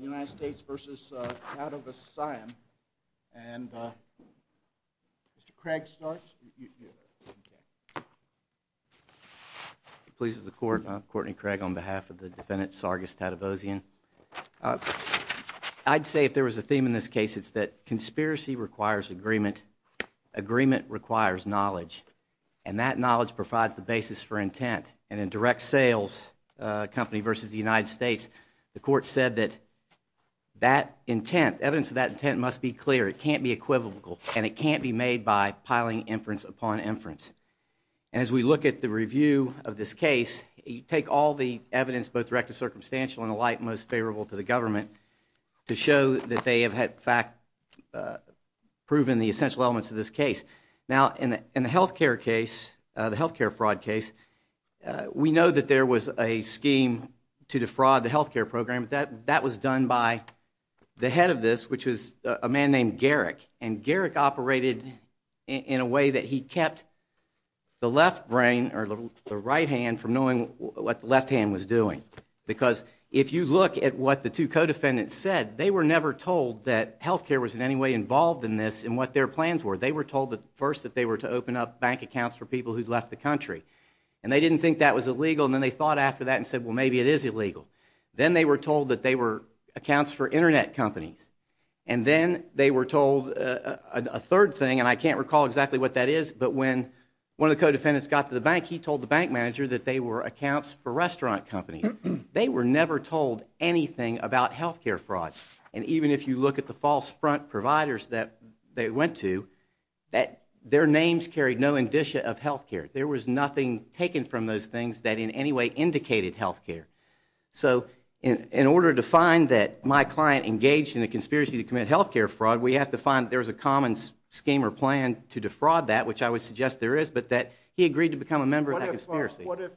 United States v. Tadevosyan. And Mr. Craig starts. Please, Mr. Court, I'm Courtney Craig on behalf of the defendant Sargis Tadevosyan. I'd say if there was a theme in this case, it's that conspiracy requires agreement. Agreement requires knowledge, and that knowledge provides the basis for intent. And in direct sales company v. the United States, the court said that that intent, evidence of that intent must be clear. It can't be equivocal, and it can't be made by piling inference upon inference. And as we look at the review of this case, you take all the evidence, both direct and circumstantial and the like, most favorable to the government to show that they have in fact proven the essential elements of this case. Now, in the health care case, the health care fraud case, we know that there was a scheme to defraud the health care program. That was done by the head of this, which was a man named Garrick. And Garrick operated in a way that he kept the left brain or the right hand from knowing what the left hand was doing. Because if you look at what the two co-defendants said, they were never told that health care was in any way involved in this and what their plans were. They were told first that they were to open up bank accounts for people who'd left the country. And they didn't think that was illegal, and then they thought after that and said, well, maybe it is illegal. Then they were told that they were accounts for Internet companies. And then they were told a third thing, and I can't recall exactly what that is, but when one of the co-defendants got to the bank, he told the bank manager that they were accounts for restaurant companies. They were never told anything about health care fraud. And even if you look at the false front providers that they went to, their names carried no indicia of health care. There was nothing taken from those things that in any way indicated health care. So in order to find that my client engaged in a conspiracy to commit health care fraud, we have to find that there's a common scheme or plan to defraud that, which I would suggest there is, but that he agreed to become a member of that conspiracy. What if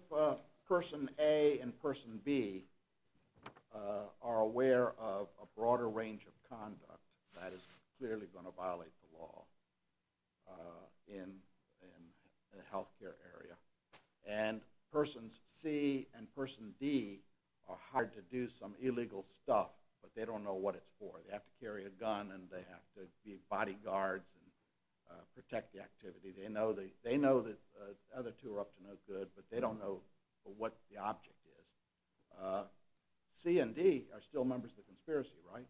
Person A and Person B are aware of a broader range of conduct that is clearly going to violate the law in the health care area? And Persons C and Person D are hired to do some illegal stuff, but they don't know what it's for. They have to carry a gun, and they have to be bodyguards and protect the activity. They know that the other two are up to no good, but they don't know what the object is. C and D are still members of the conspiracy, right?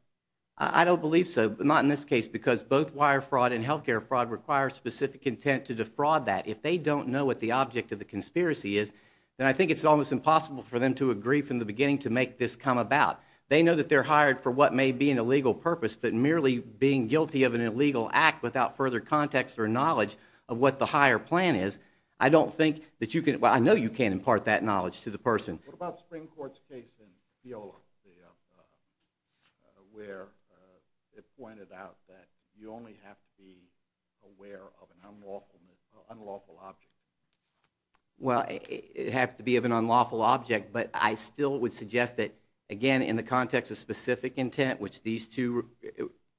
I don't believe so, but not in this case, because both wire fraud and health care fraud require specific intent to defraud that. If they don't know what the object of the conspiracy is, then I think it's almost impossible for them to agree from the beginning to make this come about. They know that they're hired for what may be an illegal purpose, but merely being guilty of an illegal act without further context or knowledge of what the higher plan is, I don't think that you can – well, I know you can impart that knowledge to the person. What about the Supreme Court's case in Fiola where it pointed out that you only have to be aware of an unlawful object? Well, it has to be of an unlawful object, but I still would suggest that, again, in the context of specific intent, which these two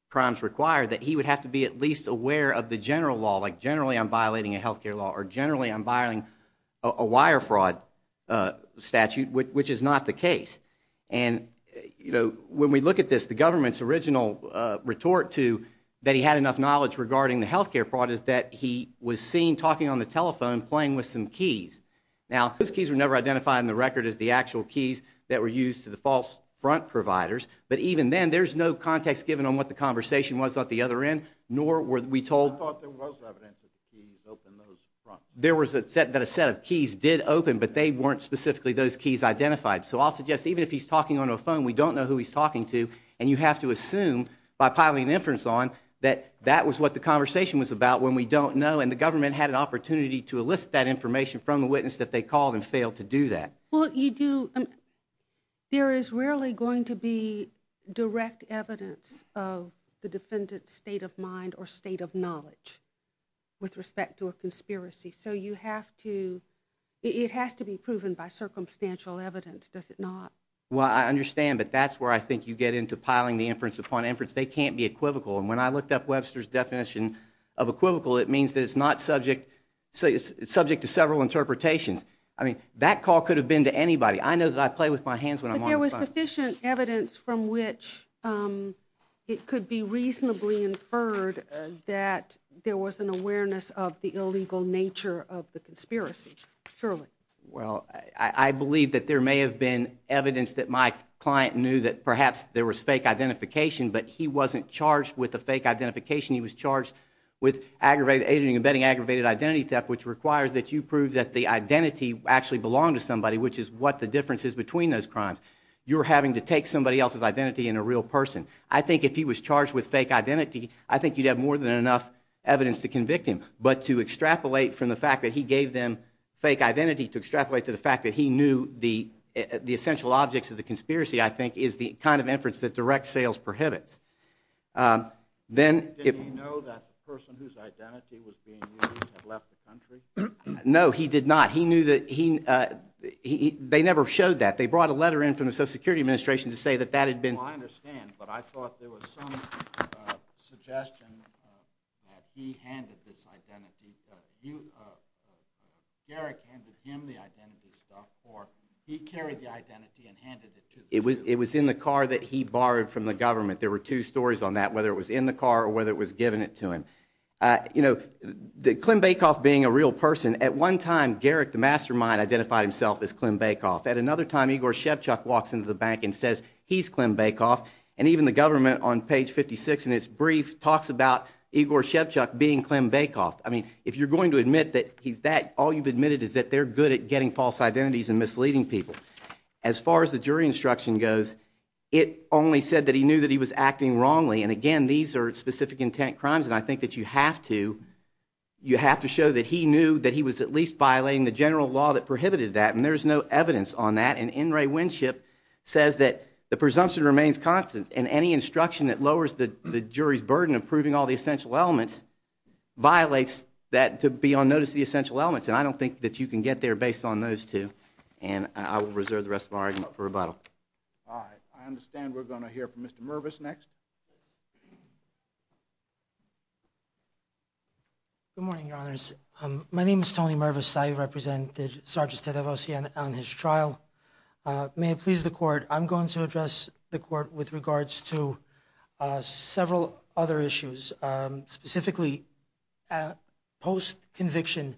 crimes require, that he would have to be at least aware of the general law, like generally I'm violating a health care law, or generally I'm violating a wire fraud statute, which is not the case. And, you know, when we look at this, the government's original retort to that he had enough knowledge regarding the health care fraud is that he was seen talking on the telephone playing with some keys. Now, those keys were never identified in the record as the actual keys that were used to the false front providers, but even then there's no context given on what the conversation was at the other end, nor were we told – I thought there was evidence that the keys opened those front – There was a set – that a set of keys did open, but they weren't specifically those keys identified. So I'll suggest even if he's talking on a phone, we don't know who he's talking to, and you have to assume by piling inference on that that was what the conversation was about when we don't know, and the government had an opportunity to elicit that information from the witness that they called and failed to do that. Well, you do – there is rarely going to be direct evidence of the defendant's state of mind or state of knowledge with respect to a conspiracy, so you have to – it has to be proven by circumstantial evidence, does it not? Well, I understand, but that's where I think you get into piling the inference upon inference. They can't be equivocal, and when I looked up Webster's definition of equivocal, it means that it's not subject – it's subject to several interpretations. I mean, that call could have been to anybody. I know that I play with my hands when I'm on the phone. But there was sufficient evidence from which it could be reasonably inferred that there was an awareness of the illegal nature of the conspiracy, surely? Well, I believe that there may have been evidence that my client knew that perhaps there was fake identification, but he wasn't charged with a fake identification. He was charged with aggravating and betting aggravated identity theft, which requires that you prove that the identity actually belonged to somebody, which is what the difference is between those crimes. You're having to take somebody else's identity in a real person. I think if he was charged with fake identity, I think you'd have more than enough evidence to convict him. But to extrapolate from the fact that he gave them fake identity, to extrapolate to the fact that he knew the essential objects of the conspiracy, I think, is the kind of inference that direct sales prohibits. Did he know that the person whose identity was being used had left the country? No, he did not. They never showed that. They brought a letter in from the Social Security Administration to say that that had been – I don't understand, but I thought there was some suggestion that he handed this identity – Garrick handed him the identity stuff, or he carried the identity and handed it to the – It was in the car that he borrowed from the government. There were two stories on that, whether it was in the car or whether it was given it to him. You know, Klim Baikoff being a real person, at one time, Garrick, the mastermind, identified himself as Klim Baikoff. At another time, Igor Shevchuk walks into the bank and says he's Klim Baikoff. And even the government, on page 56 in its brief, talks about Igor Shevchuk being Klim Baikoff. I mean, if you're going to admit that he's that, all you've admitted is that they're good at getting false identities and misleading people. As far as the jury instruction goes, it only said that he knew that he was acting wrongly. And, again, these are specific intent crimes, and I think that you have to – you have to show that he knew that he was at least violating the general law that prohibited that. And there's no evidence on that. And N. Ray Winship says that the presumption remains constant, and any instruction that lowers the jury's burden of proving all the essential elements violates that – to be on notice of the essential elements. And I don't think that you can get there based on those two. And I will reserve the rest of our argument for rebuttal. All right. I understand we're going to hear from Mr. Mervis next. Good morning, Your Honors. My name is Tony Mervis. I represented Sergeant Tedrosian on his trial. May it please the Court, I'm going to address the Court with regards to several other issues. Specifically, post-conviction,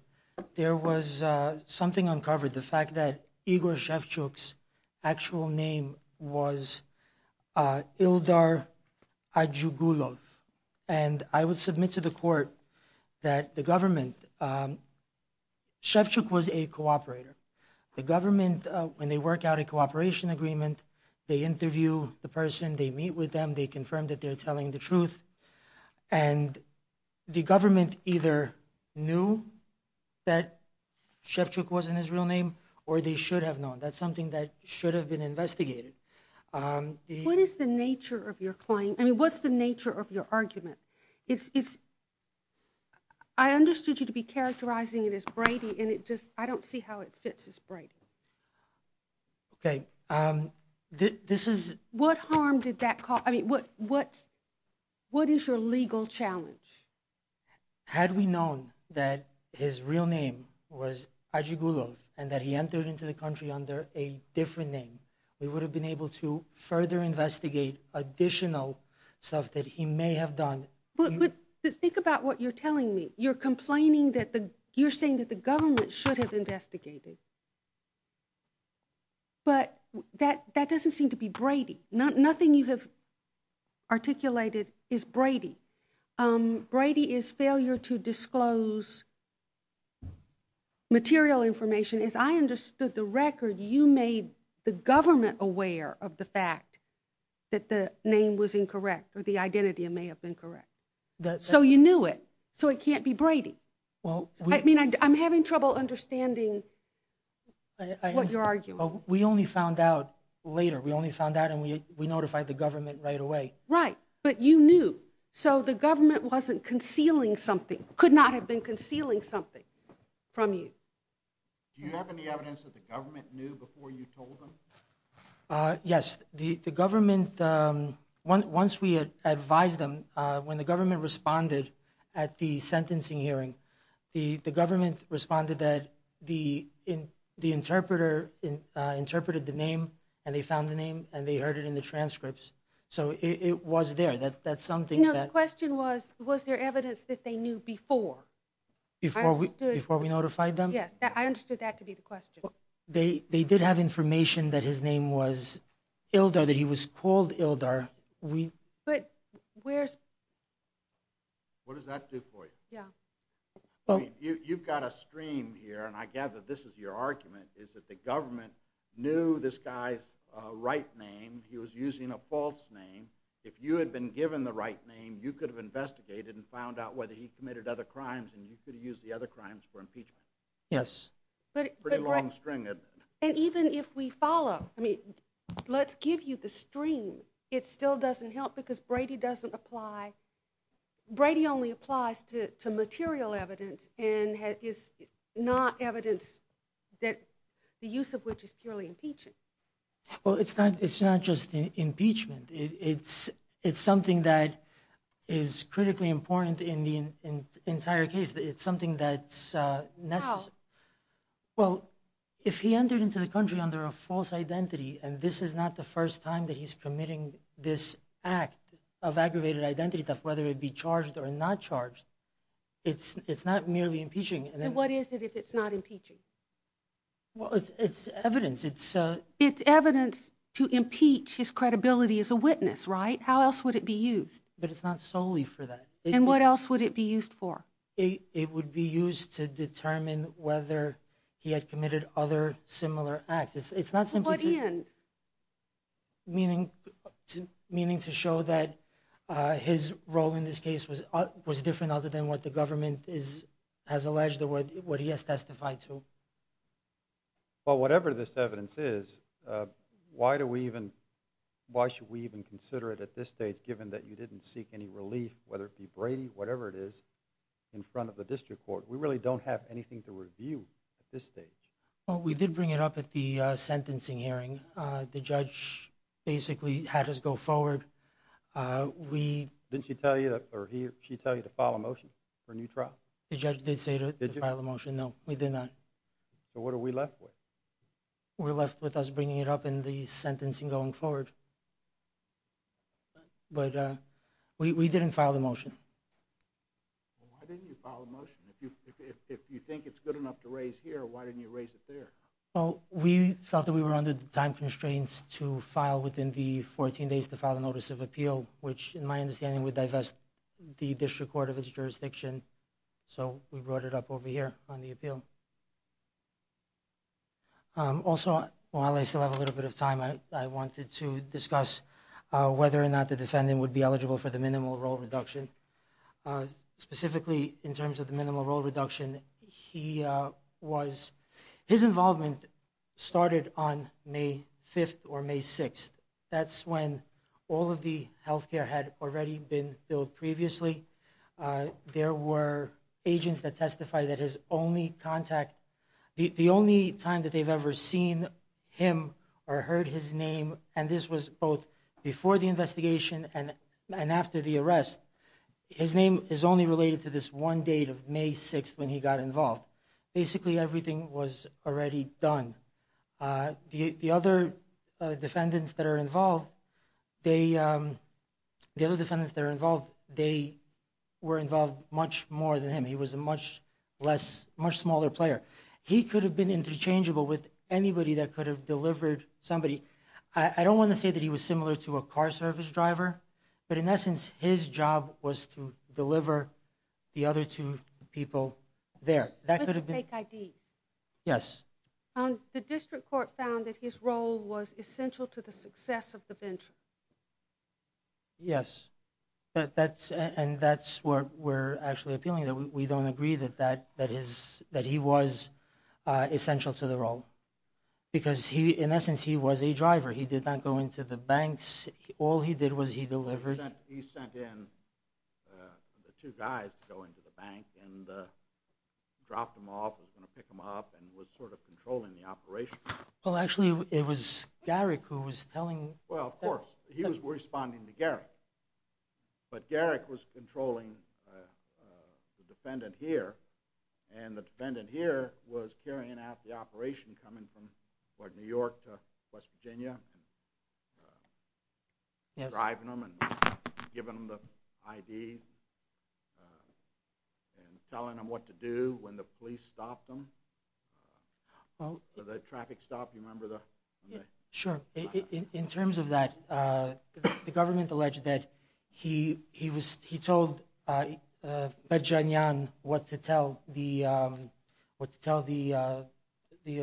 there was something uncovered, the fact that Igor Shevchuk's actual name was Ildar Adjugulov. And I would submit to the Court that the government – Shevchuk was a cooperator. The government, when they work out a cooperation agreement, they interview the person, they meet with them, they confirm that they're telling the truth, and the government either knew that Shevchuk wasn't his real name or they should have known. That's something that should have been investigated. What is the nature of your claim? I mean, what's the nature of your argument? I understood you to be characterizing it as Brady, and I don't see how it fits as Brady. What harm did that cause? I mean, what is your legal challenge? Had we known that his real name was Adjugulov and that he entered into the country under a different name, we would have been able to further investigate additional stuff that he may have done. But think about what you're telling me. You're saying that the government should have investigated, but that doesn't seem to be Brady. Nothing you have articulated is Brady. Brady is failure to disclose material information. My question is, I understood the record. You made the government aware of the fact that the name was incorrect or the identity may have been correct. So you knew it. So it can't be Brady. I mean, I'm having trouble understanding what you're arguing. We only found out later. We only found out and we notified the government right away. Right, but you knew. So the government wasn't concealing something, could not have been concealing something from you. Do you have any evidence that the government knew before you told them? Yes, the government, once we advised them, when the government responded at the sentencing hearing, the government responded that the interpreter interpreted the name and they found the name and they heard it in the transcripts. So it was there. That's something that... No, the question was, was there evidence that they knew before? Before we notified them? Yes, I understood that to be the question. They did have information that his name was Ildar, that he was called Ildar. But where's... What does that do for you? You've got a stream here, and I gather this is your argument, is that the government knew this guy's right name. He was using a false name. If you had been given the right name, you could have investigated and found out whether he committed other crimes and you could have used the other crimes for impeachment. Yes. Pretty long string, isn't it? And even if we follow, I mean, let's give you the stream. It still doesn't help because Brady doesn't apply. Brady only applies to material evidence and is not evidence that the use of which is purely impeachment. Well, it's not just impeachment. It's something that is critically important in the entire case. It's something that's necessary. How? Well, if he entered into the country under a false identity, and this is not the first time that he's committing this act of aggravated identity theft, whether it be charged or not charged, it's not merely impeaching. Then what is it if it's not impeaching? Well, it's evidence. It's evidence to impeach his credibility as a witness, right? How else would it be used? But it's not solely for that. And what else would it be used for? It would be used to determine whether he had committed other similar acts. It's not simply to show that his role in this case was different other than what the government has alleged or what he has testified to. Well, whatever this evidence is, why should we even consider it at this stage, given that you didn't seek any relief, whether it be Brady, whatever it is, in front of the district court? We really don't have anything to review at this stage. Well, we did bring it up at the sentencing hearing. The judge basically had us go forward. Didn't she tell you to file a motion for a new trial? The judge did say to file a motion. No, we did not. So what are we left with? We're left with us bringing it up in the sentencing going forward. Why didn't you file a motion? If you think it's good enough to raise here, why didn't you raise it there? Well, we felt that we were under the time constraints to file within the 14 days to file a notice of appeal, which in my understanding would divest the district court of its jurisdiction. So we brought it up over here on the appeal. Also, while I still have a little bit of time, I wanted to discuss whether or not the defendant would be eligible for the minimal role reduction. Specifically in terms of the minimal role reduction, his involvement started on May 5th or May 6th. That's when all of the health care had already been billed previously. There were agents that testified that the only time that they've ever seen him or heard his name, and this was both before the investigation and after the arrest, his name is only related to this one date of May 6th when he got involved. Basically, everything was already done. The other defendants that are involved, they were involved much more than him. He was a much smaller player. He could have been interchangeable with anybody that could have delivered somebody. I don't want to say that he was similar to a car service driver, but in essence his job was to deliver the other two people there. Fake IDs? Yes. The district court found that his role was essential to the success of the venture. Yes, and that's where we're actually appealing. We don't agree that he was essential to the role because in essence he was a driver. He did not go into the banks. All he did was he delivered. He sent in the two guys to go into the bank and dropped them off. He was going to pick them up and was sort of controlling the operation. Well, actually it was Garrick who was telling them. Well, of course. He was responding to Garrick. But Garrick was controlling the defendant here, and the defendant here was carrying out the operation, coming from New York to West Virginia, driving them and giving them the IDs and telling them what to do when the police stopped them. The traffic stop, you remember? Sure. In terms of that, the government alleged that he told Bedjanyan what to tell the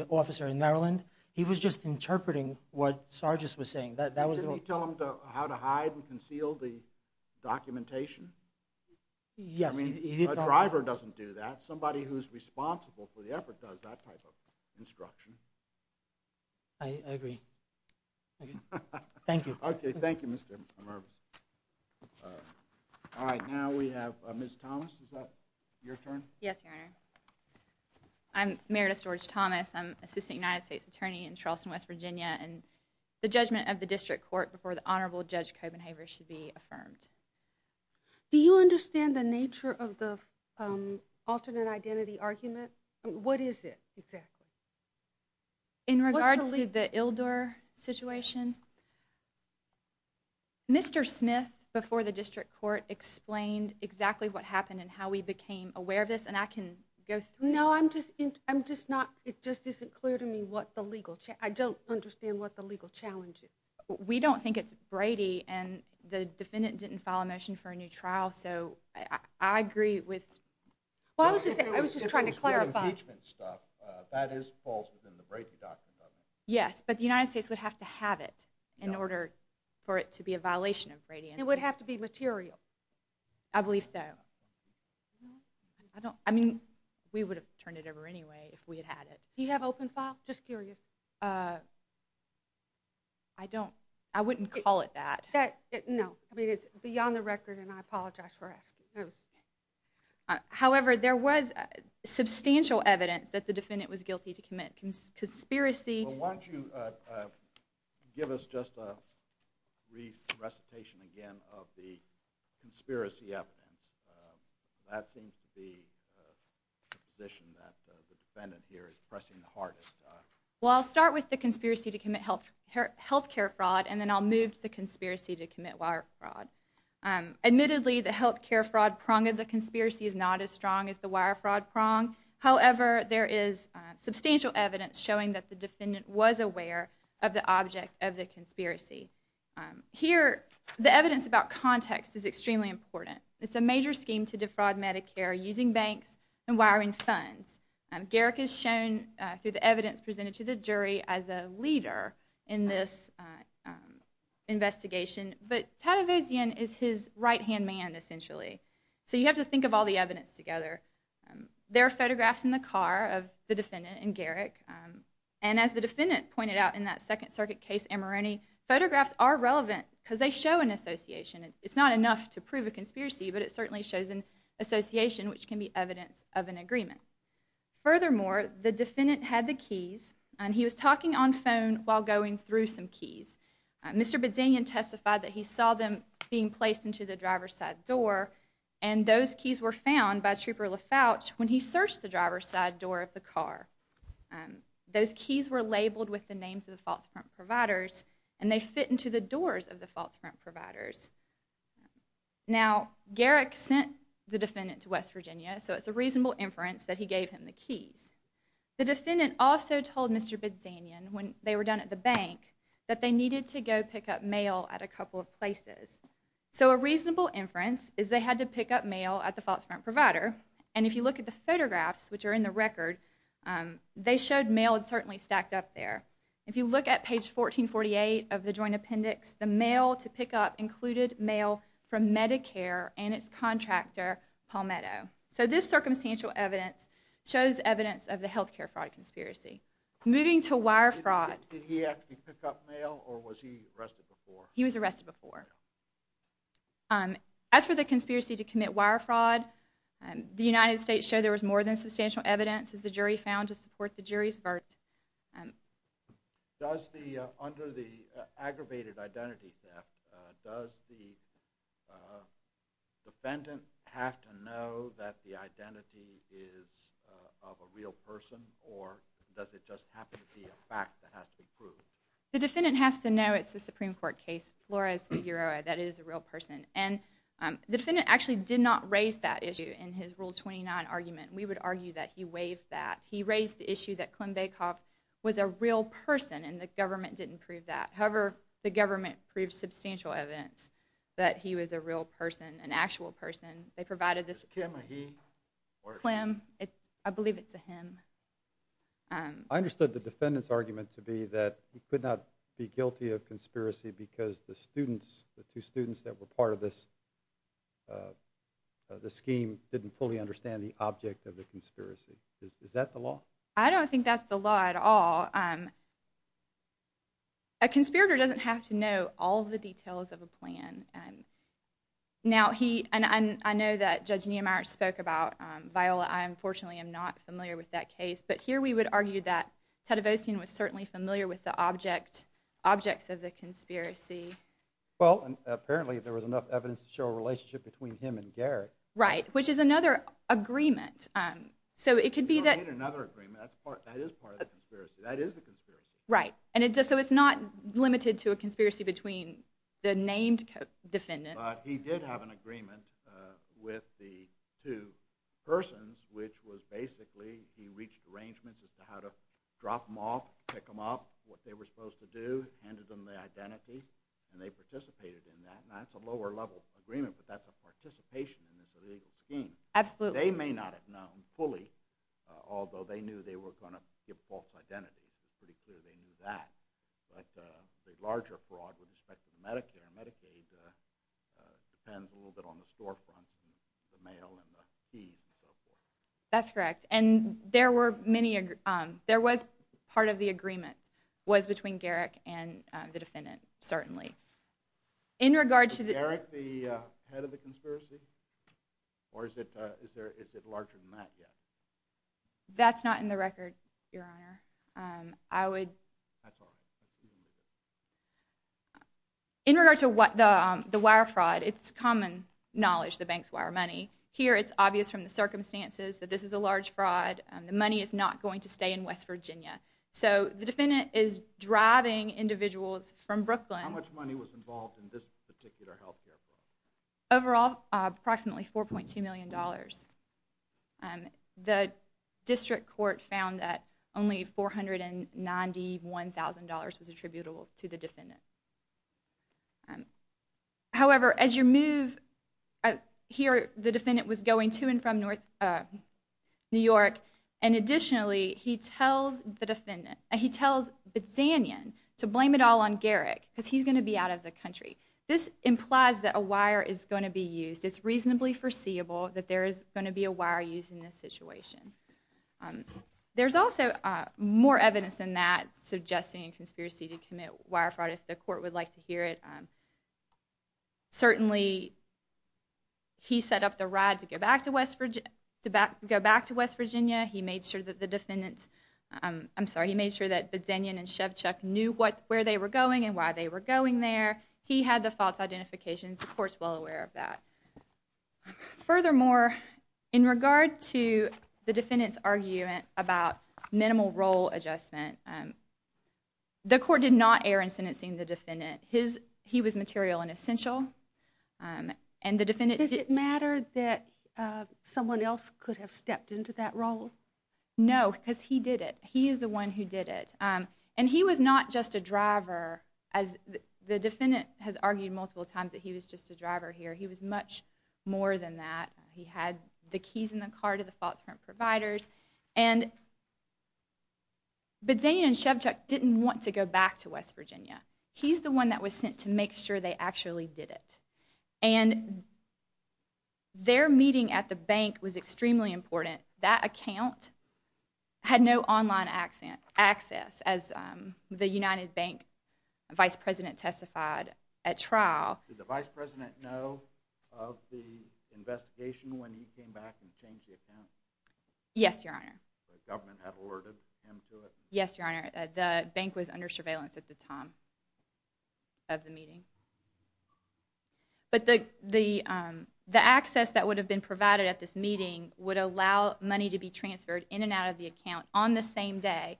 officer in Maryland. He was just interpreting what Sargis was saying. Didn't he tell them how to hide and conceal the documentation? Yes. A driver doesn't do that. Somebody who's responsible for the effort does that type of instruction. I agree. Thank you. Okay. Thank you, Mr. Mervis. All right. Now we have Ms. Thomas. Is that your turn? Yes, Your Honor. I'm Meredith George Thomas. I'm Assistant United States Attorney in Charleston, West Virginia, and the judgment of the District Court before the Honorable Judge Copenhaver should be affirmed. Do you understand the nature of the alternate identity argument? What is it exactly? In regards to the Ildor situation, Mr. Smith, before the District Court, explained exactly what happened and how we became aware of this, and I can go through it. No, I'm just not. It just isn't clear to me what the legal challenge is. I don't understand what the legal challenge is. We don't think it's Brady, and the defendant didn't file a motion for a new trial, so I agree with that. I was just trying to clarify. That is false within the Brady document. Yes, but the United States would have to have it in order for it to be a violation of Brady. It would have to be material. I believe so. I mean, we would have turned it over anyway if we had had it. Do you have open file? Just curious. I don't. I wouldn't call it that. No, I mean, it's beyond the record, and I apologize for asking. However, there was substantial evidence that the defendant was guilty to commit conspiracy. Why don't you give us just a recitation again of the conspiracy evidence. That seems to be the position that the defendant here is pressing the hardest. Well, I'll start with the conspiracy to commit health care fraud, and then I'll move to the conspiracy to commit wire fraud. Admittedly, the health care fraud prong of the conspiracy is not as strong as the wire fraud prong. However, there is substantial evidence showing that the defendant was aware of the object of the conspiracy. Here, the evidence about context is extremely important. It's a major scheme to defraud Medicare using banks and wiring funds. Garrick is shown through the evidence presented to the jury as a leader in this investigation, but Tativosian is his right-hand man, essentially. So you have to think of all the evidence together. There are photographs in the car of the defendant and Garrick, and as the defendant pointed out in that Second Circuit case, Amorone, It's not enough to prove a conspiracy, but it certainly shows an association which can be evidence of an agreement. Furthermore, the defendant had the keys, and he was talking on phone while going through some keys. Mr. Bedanyan testified that he saw them being placed into the driver's side door, and those keys were found by Trooper LaFouch when he searched the driver's side door of the car. Those keys were labeled with the names of the false front providers, and they fit into the doors of the false front providers. Now, Garrick sent the defendant to West Virginia, so it's a reasonable inference that he gave him the keys. The defendant also told Mr. Bedanyan, when they were down at the bank, that they needed to go pick up mail at a couple of places. So a reasonable inference is they had to pick up mail at the false front provider, and if you look at the photographs, which are in the record, they showed mail had certainly stacked up there. If you look at page 1448 of the Joint Appendix, the mail to pick up included mail from Medicare and its contractor, Palmetto. So this circumstantial evidence shows evidence of the healthcare fraud conspiracy. Moving to wire fraud... Did he actually pick up mail, or was he arrested before? He was arrested before. As for the conspiracy to commit wire fraud, the United States showed there was more than substantial evidence, as the jury found to support the jury's verdict. Under the aggravated identity theft, does the defendant have to know that the identity is of a real person, or does it just have to be a fact that has to be proved? The defendant has to know it's a Supreme Court case, Flores v. Uroa, that it is a real person. And the defendant actually did not raise that issue in his Rule 29 argument. We would argue that he waived that. He raised the issue that Clem Baikoff was a real person, and the government didn't prove that. However, the government proved substantial evidence that he was a real person, an actual person. They provided this... Was Clem a he, or a she? Clem, I believe it's a him. I understood the defendant's argument to be that he could not be guilty of conspiracy because the students, the two students that were part of this scheme, didn't fully understand the object of the conspiracy. Is that the law? I don't think that's the law at all. A conspirator doesn't have to know all of the details of a plan. Now, he... And I know that Judge Neimeyer spoke about Viola. I, unfortunately, am not familiar with that case. But here we would argue that Tadevosian was certainly familiar with the objects of the conspiracy. Well, apparently, there was enough evidence to show a relationship between him and Garrett. Right, which is another agreement. So it could be that... You don't need another agreement. That is part of the conspiracy. That is the conspiracy. Right. So it's not limited to a conspiracy between the named defendants. But he did have an agreement with the two persons which was basically he reached arrangements as to how to drop them off, pick them up, what they were supposed to do, handed them the identity, and they participated in that. And that's a lower-level agreement, but that's a participation in this illegal scheme. Absolutely. They may not have known fully, although they knew they were going to give false identities. It's pretty clear they knew that. But the larger fraud with respect to Medicare and Medicaid depends a little bit on the storefronts and the mail and the keys and so forth. That's correct. And there was part of the agreement was between Garrett and the defendant, certainly. Is Garrett the head of the conspiracy? Or is it larger than that yet? That's not in the record, Your Honor. In regard to the wire fraud, it's common knowledge the banks wire money. Here it's obvious from the circumstances that this is a large fraud. The money is not going to stay in West Virginia. So the defendant is driving individuals from Brooklyn. How much money was involved in this particular health care fraud? Overall, approximately $4.2 million. The district court found that only $491,000 was attributable to the defendant. However, as you move here, the defendant was going to and from New York, and additionally he tells the defendant, he tells Bitsanian to blame it all on Garrett because he's going to be out of the country. This implies that a wire is going to be used. It's reasonably foreseeable that there is going to be a wire used in this situation. There's also more evidence than that suggesting a conspiracy to commit wire fraud, if the court would like to hear it. Certainly, he set up the ride to go back to West Virginia. He made sure that the defendants, I'm sorry, he made sure that Bitsanian and Shevchuk knew where they were going and why they were going there. He had the false identification. The court's well aware of that. Furthermore, in regard to the defendant's argument about minimal role adjustment, the court did not err in sentencing the defendant. He was material and essential. Does it matter that someone else could have stepped into that role? No, because he did it. He is the one who did it, and he was not just a driver. The defendant has argued multiple times that he was just a driver here. He was much more than that. He had the keys in the car to the false print providers. And Bitsanian and Shevchuk didn't want to go back to West Virginia. He's the one that was sent to make sure they actually did it. And their meeting at the bank was extremely important. That account had no online access as the United Bank vice president testified at trial. Did the vice president know of the investigation when he came back and changed the account? Yes, Your Honor. The government had alerted him to it? Yes, Your Honor. The bank was under surveillance at the time of the meeting. But the access that would have been provided at this meeting would allow money to be transferred in and out of the account on the same day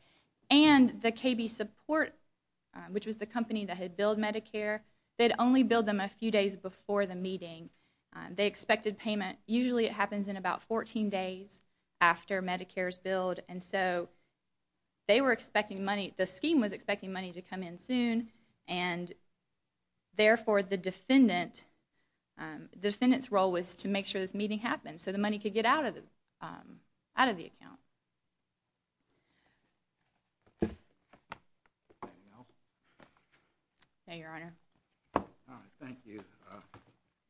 and the KB Support, which was the company that had billed Medicare, they'd only billed them a few days before the meeting. They expected payment. Usually it happens in about 14 days after Medicare's billed, and so they were expecting money. The scheme was expecting money to come in soon, and therefore the defendant's role was to make sure this meeting happened so the money could get out of the account. Anything else? No, Your Honor. All right, thank you.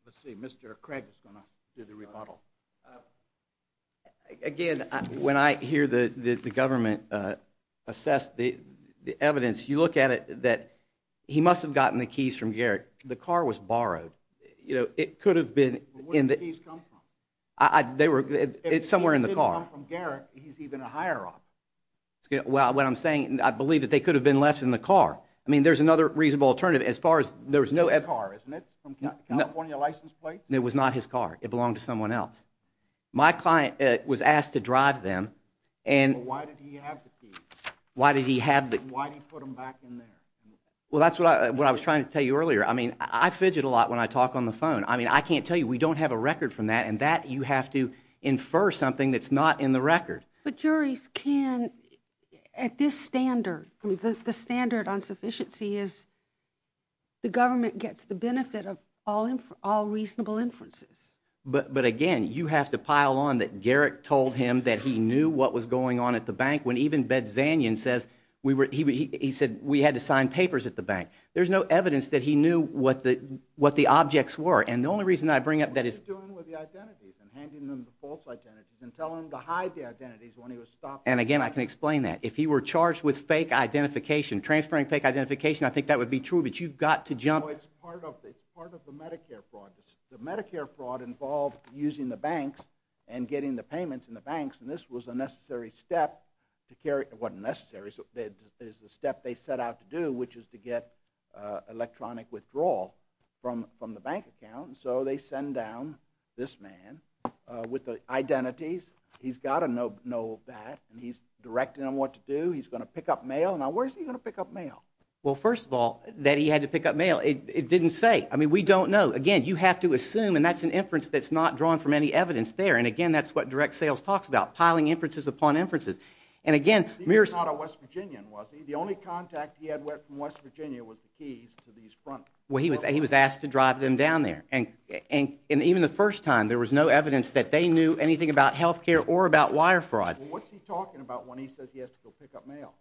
Let's see, Mr. Craig is going to do the rebuttal. Again, when I hear the government assess the evidence, you look at it that he must have gotten the keys from Garrett. The car was borrowed. Where did the keys come from? It's somewhere in the car. If it didn't come from Garrett, he's even a higher-up. Well, what I'm saying, I believe that they could have been left in the car. I mean, there's another reasonable alternative. It's his car, isn't it, from California License Plates? It was not his car. It belonged to someone else. My client was asked to drive them. Well, why did he have the keys? Why did he put them back in there? Well, that's what I was trying to tell you earlier. I mean, I fidget a lot when I talk on the phone. I mean, I can't tell you. We don't have a record from that, and that you have to infer something that's not in the record. But juries can, at this standard, the standard on sufficiency is the government gets the benefit of all reasonable inferences. But, again, you have to pile on that Garrett told him that he knew what was going on at the bank when even Bedsanyan says we had to sign papers at the bank. There's no evidence that he knew what the objects were, and the only reason I bring up that is... What are you doing with the identities and handing them to false identities and telling them to hide the identities when he was stopped? And, again, I can explain that. If he were charged with fake identification, transferring fake identification, I think that would be true, but you've got to jump... No, it's part of the Medicare fraud. The Medicare fraud involved using the banks and getting the payments in the banks, and this was a necessary step to carry... It wasn't necessary. It was a step they set out to do, which is to get electronic withdrawal from the bank account, and so they send down this man with the identities. He's got to know that, and he's directing him what to do. He's going to pick up mail. Now, where is he going to pick up mail? Well, first of all, that he had to pick up mail, it didn't say. I mean, we don't know. Again, you have to assume, and that's an inference that's not drawn from any evidence there, and, again, that's what direct sales talks about, piling inferences upon inferences. And, again, Mearson... He was not a West Virginian, was he? The only contact he had from West Virginia was the keys to these front... Well, he was asked to drive them down there, and even the first time, there was no evidence that they knew anything about health care or about wire fraud. Well, what's he talking about when he says he has to go pick up mail?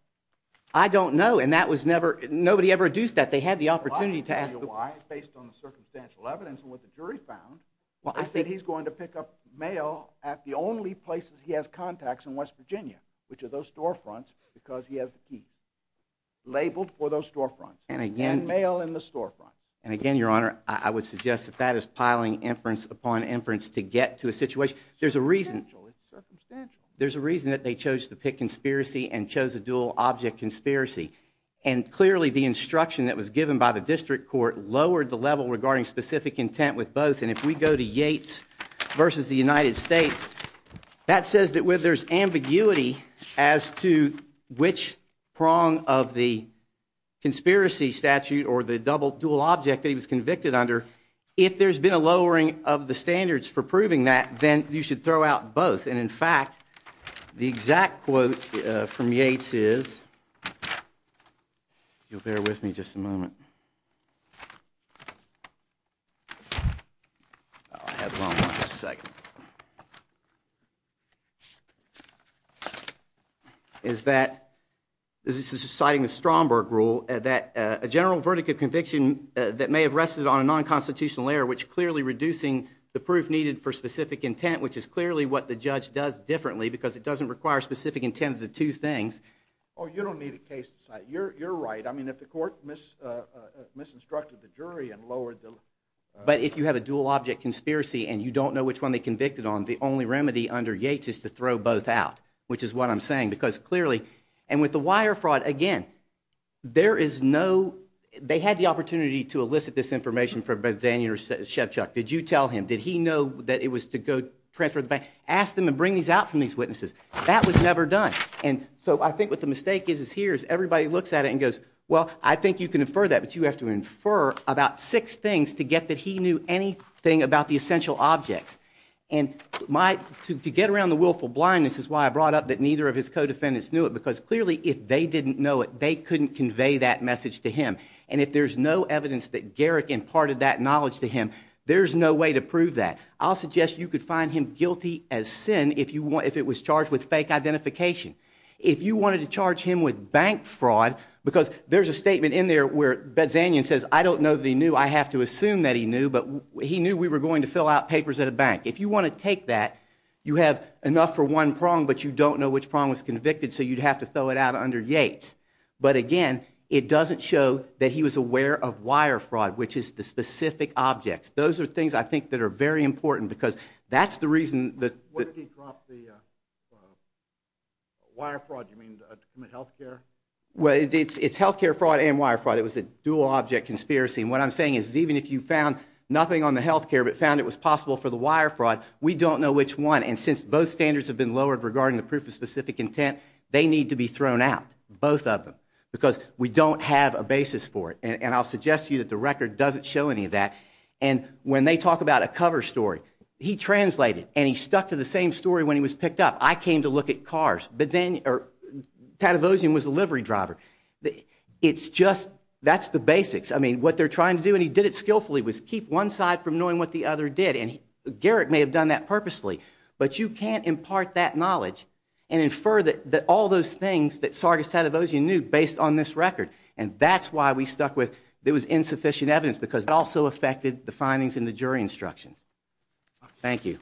I don't know, and that was never... Nobody ever deduced that. They had the opportunity to ask... Well, I can tell you why based on the circumstantial evidence and what the jury found. Well, I think... They said he's going to pick up mail at the only places he has contacts in West Virginia, which are those storefronts, because he has the keys labeled for those storefronts. And, again... And mail in the storefront. And, again, Your Honor, I would suggest that that is piling inference upon inference to get to a situation. There's a reason... It's circumstantial. It's circumstantial. There's a reason that they chose to pick conspiracy and chose a dual-object conspiracy. And, clearly, the instruction that was given by the district court lowered the level regarding specific intent with both, and if we go to Yates versus the United States, that says that where there's ambiguity as to which prong of the conspiracy statute or the dual-object that he was convicted under, if there's been a lowering of the standards for proving that, then you should throw out both. And, in fact, the exact quote from Yates is... If you'll bear with me just a moment. I'll have a moment, just a second. ...is that... This is citing the Stromberg rule, that a general verdict of conviction that may have rested on a non-constitutional error, which clearly reducing the proof needed for specific intent, which is clearly what the judge does differently because it doesn't require specific intent of the two things... Oh, you don't need a case to cite. You're right. I mean, if the court misinstructed the jury and lowered the... But if you have a dual-object conspiracy and you don't know which one they convicted on, the only remedy under Yates is to throw both out, which is what I'm saying, because clearly... And with the wire fraud, again, there is no... They had the opportunity to elicit this information from both Daniel and Shevchuk. Did you tell him? Did he know that it was to go transfer the bank? Ask them and bring these out from these witnesses. That was never done. And so I think what the mistake is here is everybody looks at it and goes, well, I think you can infer that, but you have to infer about six things to get that he knew anything about the essential objects. And to get around the willful blindness is why I brought up that neither of his co-defendants knew it, because clearly if they didn't know it, they couldn't convey that message to him. And if there's no evidence that Garrick imparted that knowledge to him, there's no way to prove that. I'll suggest you could find him guilty as sin if it was charged with fake identification. If you wanted to charge him with bank fraud, because there's a statement in there where Bedzanian says, I don't know that he knew, I have to assume that he knew, but he knew we were going to fill out papers at a bank. If you want to take that, you have enough for one prong, but you don't know which prong was convicted, so you'd have to throw it out under Yates. But again, it doesn't show that he was aware of wire fraud, which is the specific objects. Those are things I think that are very important, because that's the reason that... When did he drop the wire fraud? You mean to commit health care? Well, it's health care fraud and wire fraud. It was a dual-object conspiracy, and what I'm saying is even if you found nothing on the health care but found it was possible for the wire fraud, we don't know which one. And since both standards have been lowered regarding the proof of specific intent, they need to be thrown out, both of them, because we don't have a basis for it. And I'll suggest to you that the record doesn't show any of that. And when they talk about a cover story, he translated, and he stuck to the same story when he was picked up. I came to look at cars. Tadavosian was a livery driver. It's just... That's the basics. I mean, what they're trying to do, and he did it skillfully, was keep one side from knowing what the other did, and Garrett may have done that purposely, but you can't impart that knowledge and infer all those things that Sargis Tadavosian knew based on this record, and that's why we stuck with... There was insufficient evidence, because it also affected the findings in the jury instructions. Thank you.